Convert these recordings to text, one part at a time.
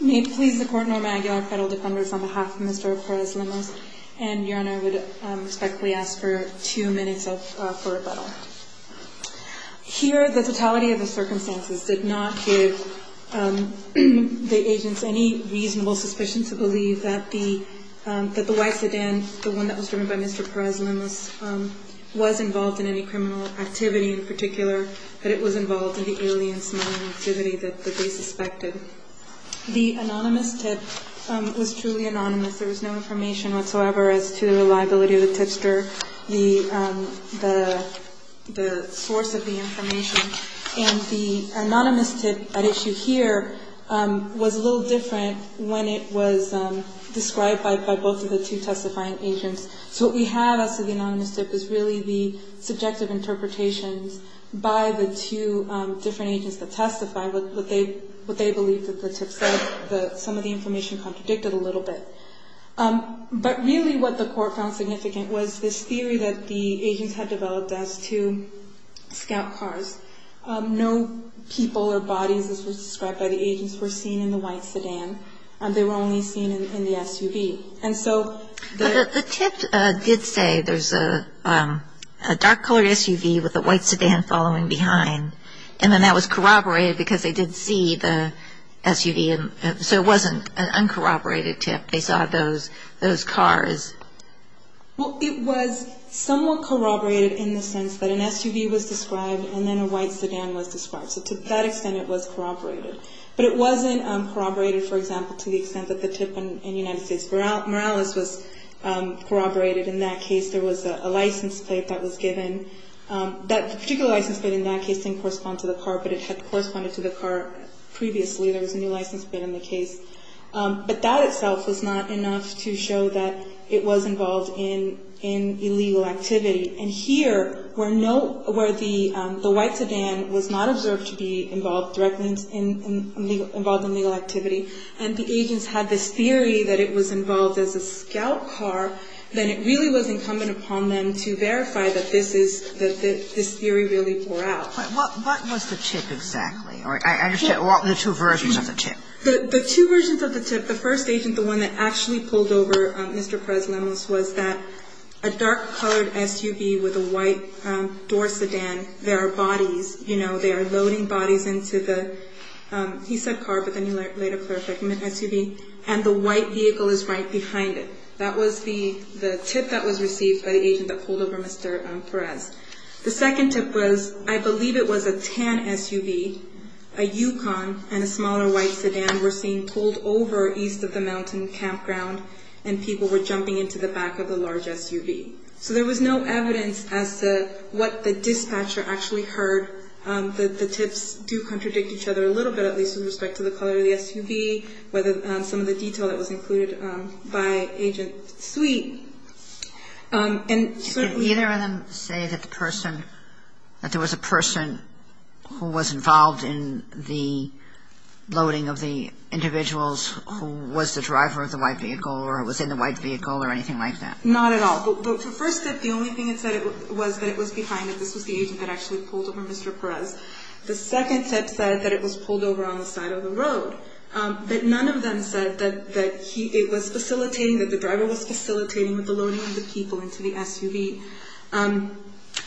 May it please the Court, Norma Aguilar, Federal Defenders, on behalf of Mr. Perez-Lemos and Your Honor, I would respectfully ask for two minutes for rebuttal. Here, the totality of the circumstances did not give the agents any reasonable suspicion to believe that the white sedan, the one that was driven by Mr. Perez-Lemos, was involved in any criminal activity in particular, that it was involved in the alien smuggling activity that they suspected. The anonymous tip was truly anonymous. There was no information whatsoever as to the reliability of the tipster, the source of the information. And the anonymous tip at issue here was a little different when it was described by both of the two testifying agents. So what we have as to the anonymous tip is really the subjective interpretations by the two different agents that testified what they believed that the tip said. Some of the information contradicted a little bit. But really what the Court found significant was this theory that the agents had developed as to scout cars. No people or bodies, as was described by the agents, were seen in the white sedan. They were only seen in the SUV. And so the tip did say there's a dark-colored SUV with a white sedan following behind. And then that was corroborated because they did see the SUV. So it wasn't an uncorroborated tip. They saw those cars. Well, it was somewhat corroborated in the sense that an SUV was described and then a white sedan was described. So to that extent, it was corroborated. But it wasn't corroborated, for example, to the extent that the tip in the United States. Morales was corroborated in that case. There was a license plate that was given. That particular license plate in that case didn't correspond to the car, but it had corresponded to the car previously. There was a new license plate in the case. But that itself was not enough to show that it was involved in illegal activity. And here, where no – where the white sedan was not observed to be involved directly in – involved in legal activity, and the agents had this theory that it was involved as a scout car, then it really was incumbent upon them to verify that this is – that this theory really bore out. But what was the tip exactly? I understand the two versions of the tip. The two versions of the tip, the first agent, the one that actually pulled over Mr. Perez, a dark-colored SUV with a white door sedan. There are bodies, you know, they are loading bodies into the – he said car, but then he later clarified, SUV. And the white vehicle is right behind it. That was the tip that was received by the agent that pulled over Mr. Perez. The second tip was, I believe it was a tan SUV, a Yukon, and a smaller white sedan were seen pulled over east of the mountain campground, and people were jumping into the back of the large SUV. So there was no evidence as to what the dispatcher actually heard. The tips do contradict each other a little bit, at least with respect to the color of the SUV, whether some of the detail that was included by Agent Sweet. And certainly – Can either of them say that the person – that there was a person who was involved in the loading of the individuals who was the driver of the white vehicle or was in the white vehicle or anything like that? Not at all. The first tip, the only thing it said was that it was behind it. This was the agent that actually pulled over Mr. Perez. The second tip said that it was pulled over on the side of the road, but none of them said that he – it was facilitating, that the driver was facilitating with the loading of the people into the SUV. And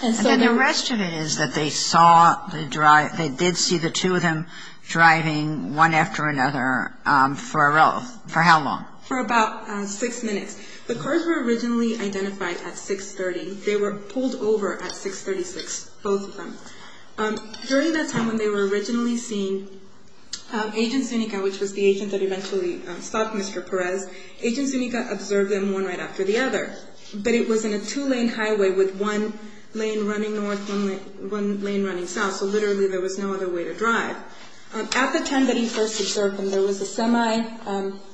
then the rest of it is that they saw the – they did see the two of them driving one after another for how long? For about six minutes. The cars were originally identified at 6.30. They were pulled over at 6.36, both of them. During that time when they were originally seen, Agent Zuniga, which was the agent that eventually stopped Mr. Perez, Agent Zuniga observed them one right after the other. But it was in a two-lane highway with one lane running north, one lane running south, so literally there was no other way to drive. At the time that he first observed them, there was a semi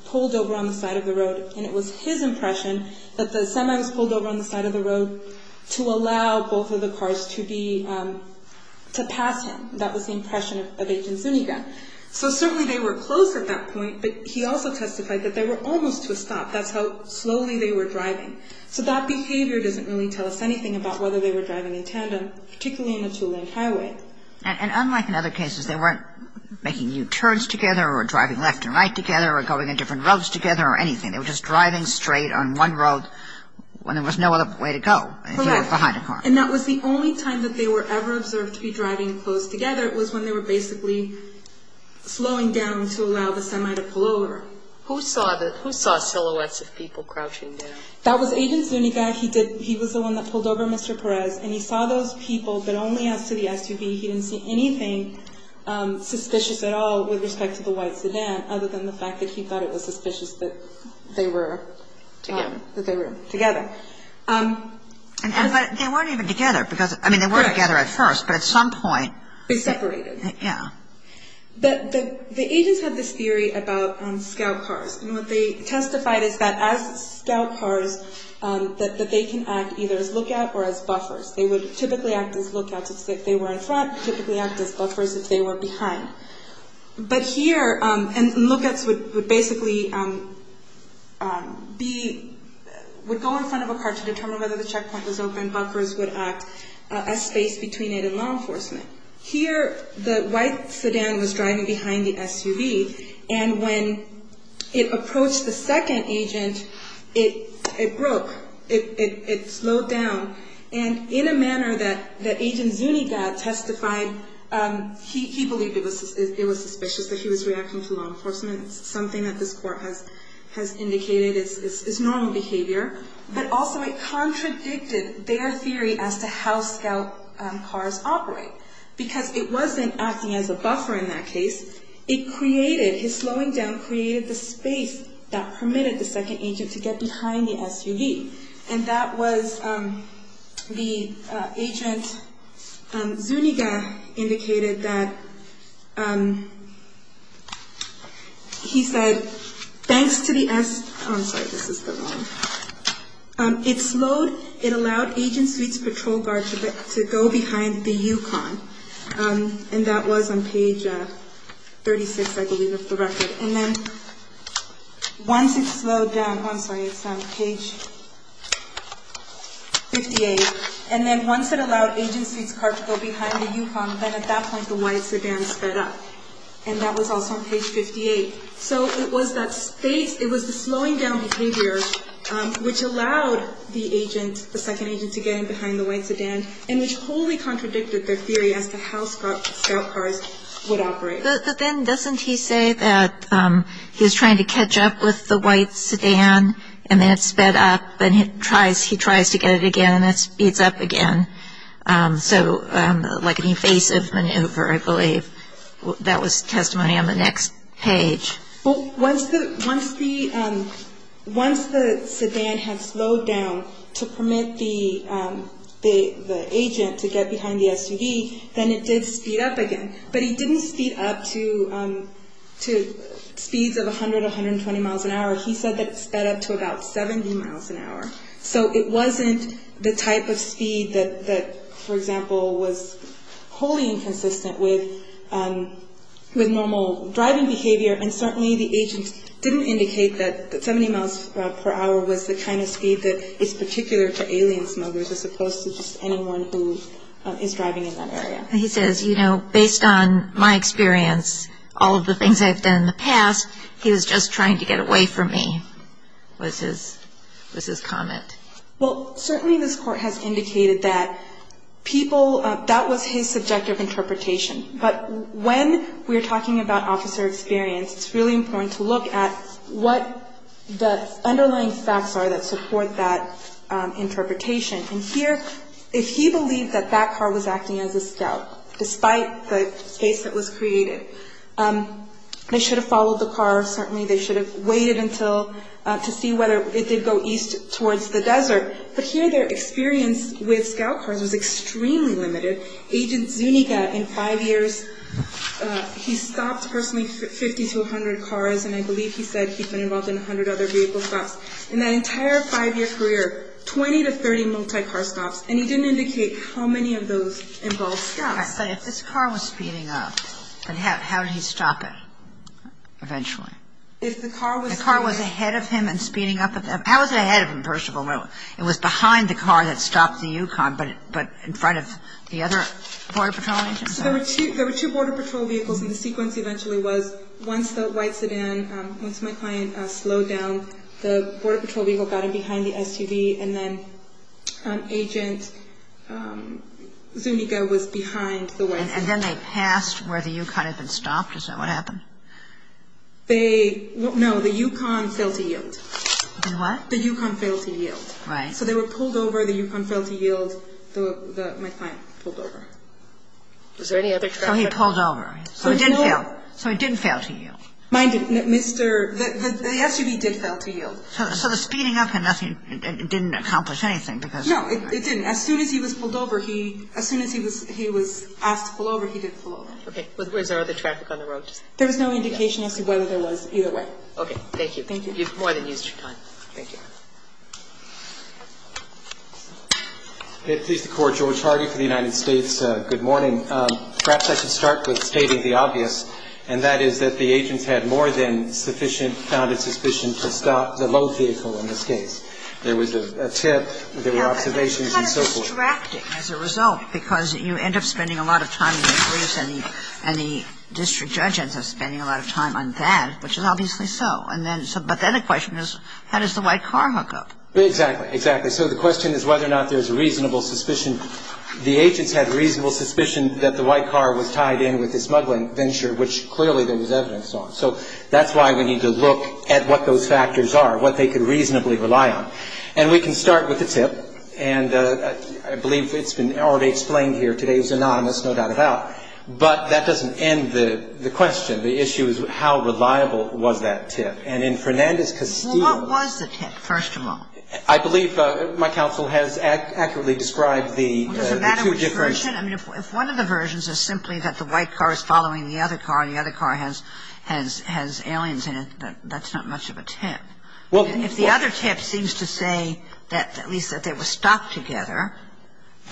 pulled over on the side of the road, and it was his impression that the semi was pulled over on the side of the road to allow both of the cars to be – to pass him. That was the impression of Agent Zuniga. So certainly they were close at that point, but he also testified that they were almost to a stop. That's how slowly they were driving. So that behavior doesn't really tell us anything about whether they were driving in tandem, particularly on a two-lane highway. And unlike in other cases, they weren't making U-turns together or driving left and right together or going in different roads together or anything. They were just driving straight on one road when there was no other way to go if you were behind a car. Correct. And that was the only time that they were ever observed to be driving close together was when they were basically slowing down to allow the semi to pull over. Who saw the – who saw silhouettes of people crouching down? That was Agent Zuniga. He did – he was the one that pulled over Mr. Perez, and he saw those people, but only as to the SUV. He didn't see anything suspicious at all with respect to the white sedan other than the fact that he thought it was suspicious that they were – Together. That they were together. And they weren't even together because – I mean, they were together at first, but at some point – They separated. Yeah. The agents had this theory about scout cars, and what they testified is that as scout cars that they can act either as lookout or as buffers. They would typically act as lookouts if they were in front, typically act as buffers if they were behind. But here – and lookouts would basically be – would go in front of a car to determine whether the checkpoint was open, buffers would act as space between it and law enforcement. Here, the white sedan was driving behind the SUV, and when it approached the second agent, it broke. It slowed down. And in a manner that Agent Zuniga testified, he believed it was suspicious that he was reacting to law enforcement. It's something that this court has indicated is normal behavior. But also, it contradicted their theory as to how scout cars operate, because it wasn't acting as a buffer in that case. It created – his slowing down created the space that permitted the second agent to get behind the SUV. And that was the – Agent Zuniga indicated that he said, thanks to the – I'm sorry, this is the wrong – it slowed – it allowed Agent Sweet's patrol guard to go behind the Yukon. And that was on page 36, I believe, of the record. And then once it slowed down – I'm sorry, it's on page 58. And then once it allowed Agent Sweet's car to go behind the Yukon, then at that point the white sedan sped up. And that was also on page 58. So it was that space – it was the slowing down behavior which allowed the agent, the second agent, to get in behind the white sedan, and which wholly contradicted their theory as to how scout cars would operate. But then doesn't he say that he was trying to catch up with the white sedan, and then it sped up, and he tries to get it again, and it speeds up again? So like an evasive maneuver, I believe. That was testimony on the next page. Well, once the sedan had slowed down to permit the agent to get behind the SUV, then it did speed up again. But he didn't speed up to speeds of 100, 120 miles an hour. He said that it sped up to about 70 miles an hour. So it wasn't the type of speed that, for example, was wholly inconsistent with normal driving behavior. And certainly the agent didn't indicate that 70 miles per hour was the kind of speed that is particular to alien smugglers, as opposed to just anyone who is driving in that area. And he says, you know, based on my experience, all of the things I've done in the past, he was just trying to get away from me, was his comment. Well, certainly this Court has indicated that people, that was his subjective interpretation. But when we're talking about officer experience, it's really important to look at what the underlying facts are that support that interpretation. And here, if he believed that that car was acting as a scout, despite the case that was created, they should have followed the car. Certainly they should have waited until to see whether it did go east towards the desert. But here their experience with scout cars was extremely limited. Agent Zuniga, in five years, he stopped personally 50 to 100 cars, and I believe he said he'd been involved in 100 other vehicle thefts. In that entire five-year career, 20 to 30 multi-car stops, and he didn't indicate how many of those involved scouts. But if this car was speeding up, how did he stop it eventually? If the car was ahead of him and speeding up, how was it ahead of him, Percival? It was behind the car that stopped the Yukon, but in front of the other Border Patrol agents? There were two Border Patrol vehicles, and the sequence eventually was once the white SUV and then Agent Zuniga was behind the white SUV. And then they passed where the Yukon had been stopped? Is that what happened? No, the Yukon failed to yield. The what? The Yukon failed to yield. Right. So they were pulled over. The Yukon failed to yield. My client pulled over. Was there any other traffic? So he pulled over. So it didn't fail. So it didn't fail to yield. Mine didn't. The SUV did fail to yield. So the speeding up, it didn't accomplish anything? No, it didn't. As soon as he was pulled over, as soon as he was asked to pull over, he did pull over. Okay. Was there other traffic on the road? There was no indication as to whether there was either way. Okay. Thank you. Thank you. You've more than used your time. Thank you. Please, the Court. George Hargit for the United States. Good morning. Perhaps I should start with stating the obvious, and that is that the agents had more than sufficient, founded suspicion to stop the load vehicle in this case. There was a tip, there were observations and so forth. But it's kind of distracting as a result, because you end up spending a lot of time in the briefs, and the district judge ends up spending a lot of time on that, which is obviously so. But then the question is, how does the white car hook up? Exactly. Exactly. So the question is whether or not there's reasonable suspicion. The agents had reasonable suspicion that the white car was tied in with the smuggling venture, which clearly there was evidence on. So that's why we need to look at what those factors are, what they could reasonably rely on. And we can start with the tip. And I believe it's been already explained here. Today's anonymous, no doubt about it. But that doesn't end the question. The issue is how reliable was that tip. And in Fernandez-Castillo. Well, what was the tip, first of all? I believe my counsel has accurately described the two different. Well, does it matter which version? I mean, if one of the versions is simply that the white car is following the other car and the other car has aliens in it, that's not much of a tip. If the other tip seems to say that at least that they were stopped together.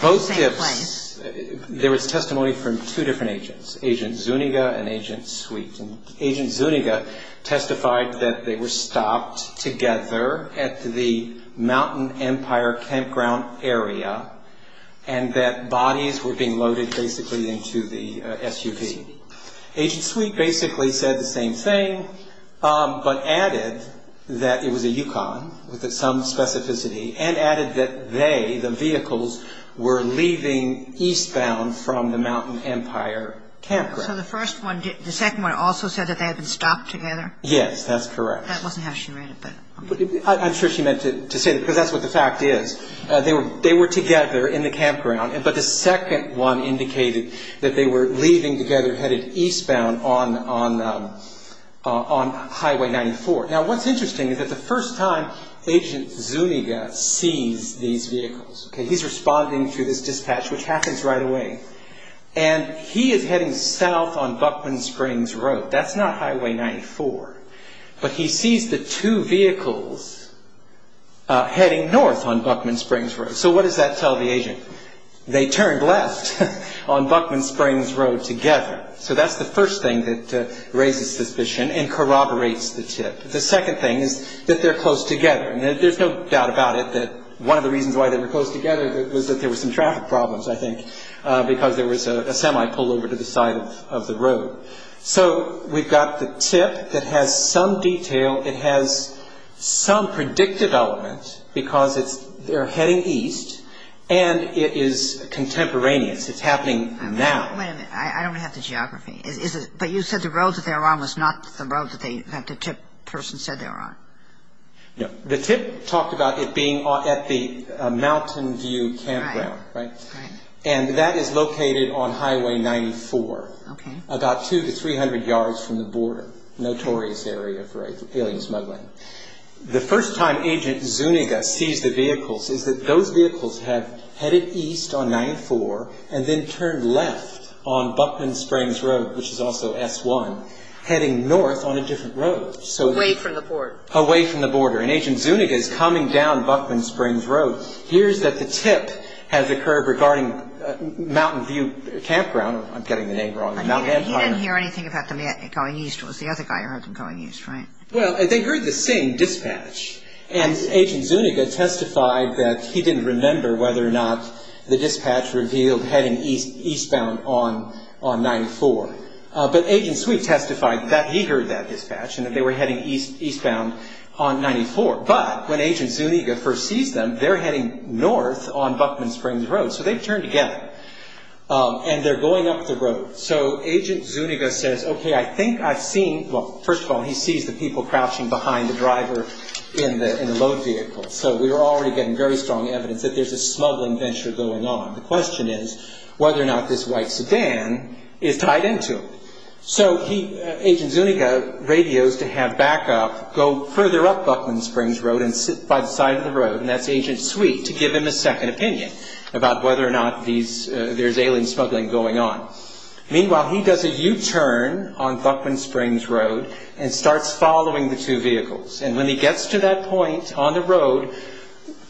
Both tips, there was testimony from two different agents, Agent Zuniga and Agent Sweet. And Agent Zuniga testified that they were stopped together at the Mountain Empire campground area and that bodies were being loaded basically into the SUV. Agent Sweet basically said the same thing but added that it was a Yukon with some specificity and added that they, the vehicles, were leaving eastbound from the Mountain Empire campground. So the first one, the second one also said that they had been stopped together? Yes, that's correct. That wasn't how she read it. I'm sure she meant to say that because that's what the fact is. They were together in the campground, but the second one indicated that they were leaving together headed eastbound on Highway 94. Now, what's interesting is that the first time Agent Zuniga sees these vehicles, he's responding to this dispatch, which happens right away. And he is heading south on Buckman Springs Road. That's not Highway 94. But he sees the two vehicles heading north on Buckman Springs Road. So what does that tell the agent? They turned left on Buckman Springs Road together. So that's the first thing that raises suspicion and corroborates the tip. The second thing is that they're close together. There's no doubt about it that one of the reasons why they were close together was that there were some traffic problems, I think, because there was a semi pullover to the side of the road. So we've got the tip that has some detail. It has some predicted element because they're heading east, and it is contemporaneous. It's happening now. Wait a minute. I don't have the geography. But you said the road that they were on was not the road that the tip person said they were on. No. The tip talked about it being at the Mountain View campground, right? Right. And that is located on Highway 94. Okay. About 200 to 300 yards from the border. Notorious area for alien smuggling. The first time Agent Zuniga sees the vehicles is that those vehicles have headed east on 94 and then turned left on Buckman Springs Road, which is also S1, heading north on a different road. Away from the border. Away from the border. And Agent Zuniga is coming down Buckman Springs Road, hears that the tip has occurred regarding Mountain View campground. I'm getting the name wrong. He didn't hear anything about them going east. It was the other guy who heard them going east, right? Well, they heard the same dispatch, and Agent Zuniga testified that he didn't remember whether or not the dispatch revealed heading eastbound on 94. But Agent Sweet testified that he heard that dispatch and that they were heading eastbound on 94. But when Agent Zuniga first sees them, they're heading north on Buckman Springs Road. So they turn together, and they're going up the road. So Agent Zuniga says, okay, I think I've seen – well, first of all, he sees the people crouching behind the driver in the load vehicle. So we're already getting very strong evidence that there's a smuggling venture going on. The question is whether or not this white sedan is tied into it. So Agent Zuniga radios to have backup go further up Buckman Springs Road and sit by the side of the road, and that's Agent Sweet, to give him a second opinion about whether or not there's alien smuggling going on. Meanwhile, he does a U-turn on Buckman Springs Road and starts following the two vehicles. And when he gets to that point on the road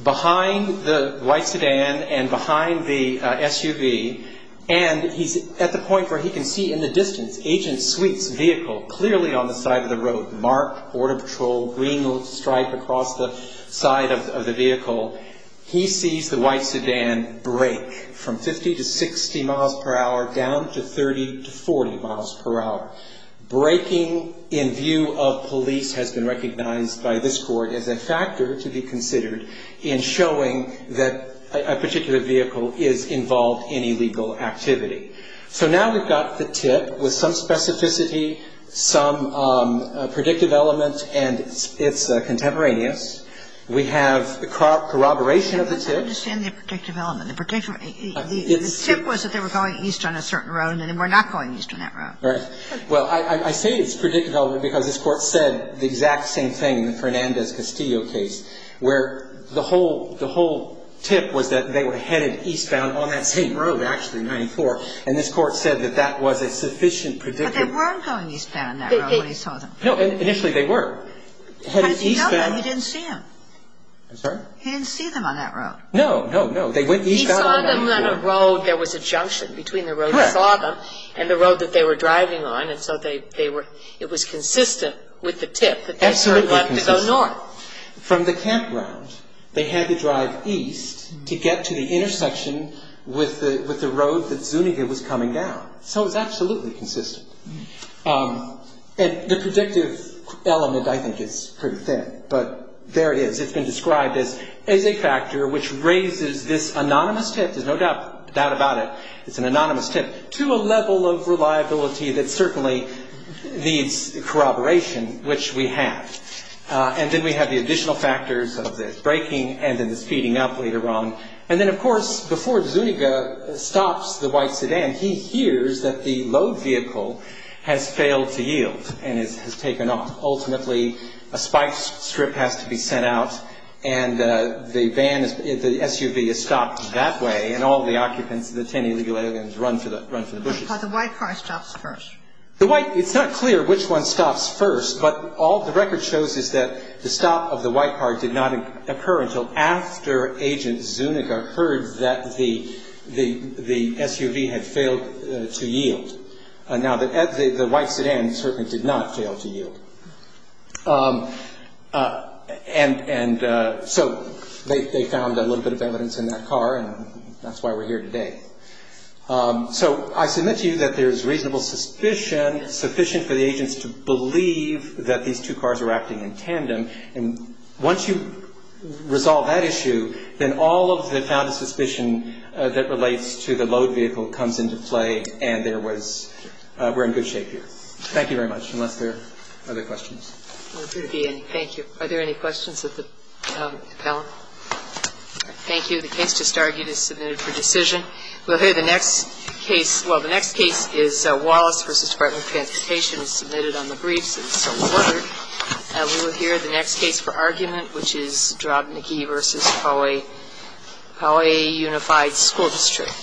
behind the white sedan and behind the SUV, and he's at the point where he can see in the distance Agent Sweet's vehicle clearly on the side of the road, marked Border Patrol green stripe across the side of the vehicle, he sees the white sedan break from 50 to 60 miles per hour down to 30 to 40 miles per hour. Breaking in view of police has been recognized by this court as a factor to be considered in showing that a particular vehicle is involved in illegal activity. So now we've got the tip with some specificity, some predictive element, and it's contemporaneous. We have corroboration of the tip. I don't understand the predictive element. The tip was that they were going east on a certain road, and then we're not going east on that road. Right. Well, I say it's predictive element because this Court said the exact same thing in the Fernandez-Castillo case, where the whole tip was that they were headed eastbound on that same road, actually, in 94, and this Court said that that was a sufficient predictive element. But they weren't going eastbound on that road when he saw them. No, initially they were. He didn't see them. I'm sorry? He didn't see them on that road. No, no, no. They went eastbound on 94. He saw them on a road. There was a junction between the road he saw them and the road that they were driving on, and so it was consistent with the tip that they turned left to go north. From the campground, they had to drive east to get to the intersection with the road that Zuniga was coming down. So it was absolutely consistent. And the predictive element, I think, is pretty thin, but there it is. It's been described as a factor which raises this anonymous tip. There's no doubt about it. It's an anonymous tip to a level of reliability that certainly needs corroboration, which we have. And then we have the additional factors of the braking and then the speeding up later on. And then, of course, before Zuniga stops the white sedan, he hears that the load vehicle has failed to yield and has taken off. Ultimately, a spike strip has to be sent out, and the SUV is stopped that way, and all the occupants of the 10 Illegal Aliens run for the bushes. But the white car stops first. It's not clear which one stops first, but all the record shows is that the stop of the white car did not occur until after Agent Zuniga heard that the SUV had failed to yield. Now, the white sedan certainly did not fail to yield. And so they found a little bit of evidence in that car, and that's why we're here today. So I submit to you that there's reasonable suspicion, sufficient for the agents to believe that these two cars were acting in tandem. And once you resolve that issue, then all of the found of suspicion that relates to the load vehicle comes into play, and there was we're in good shape here. Thank you very much. Unless there are other questions. Thank you. Are there any questions of the panel? All right. Thank you. The case just argued is submitted for decision. We'll hear the next case. Well, the next case is Wallace v. Department of Transportation is submitted on the briefs. It's awarded. We will hear the next case for argument, which is Drobneki v. Hawaii Unified School District.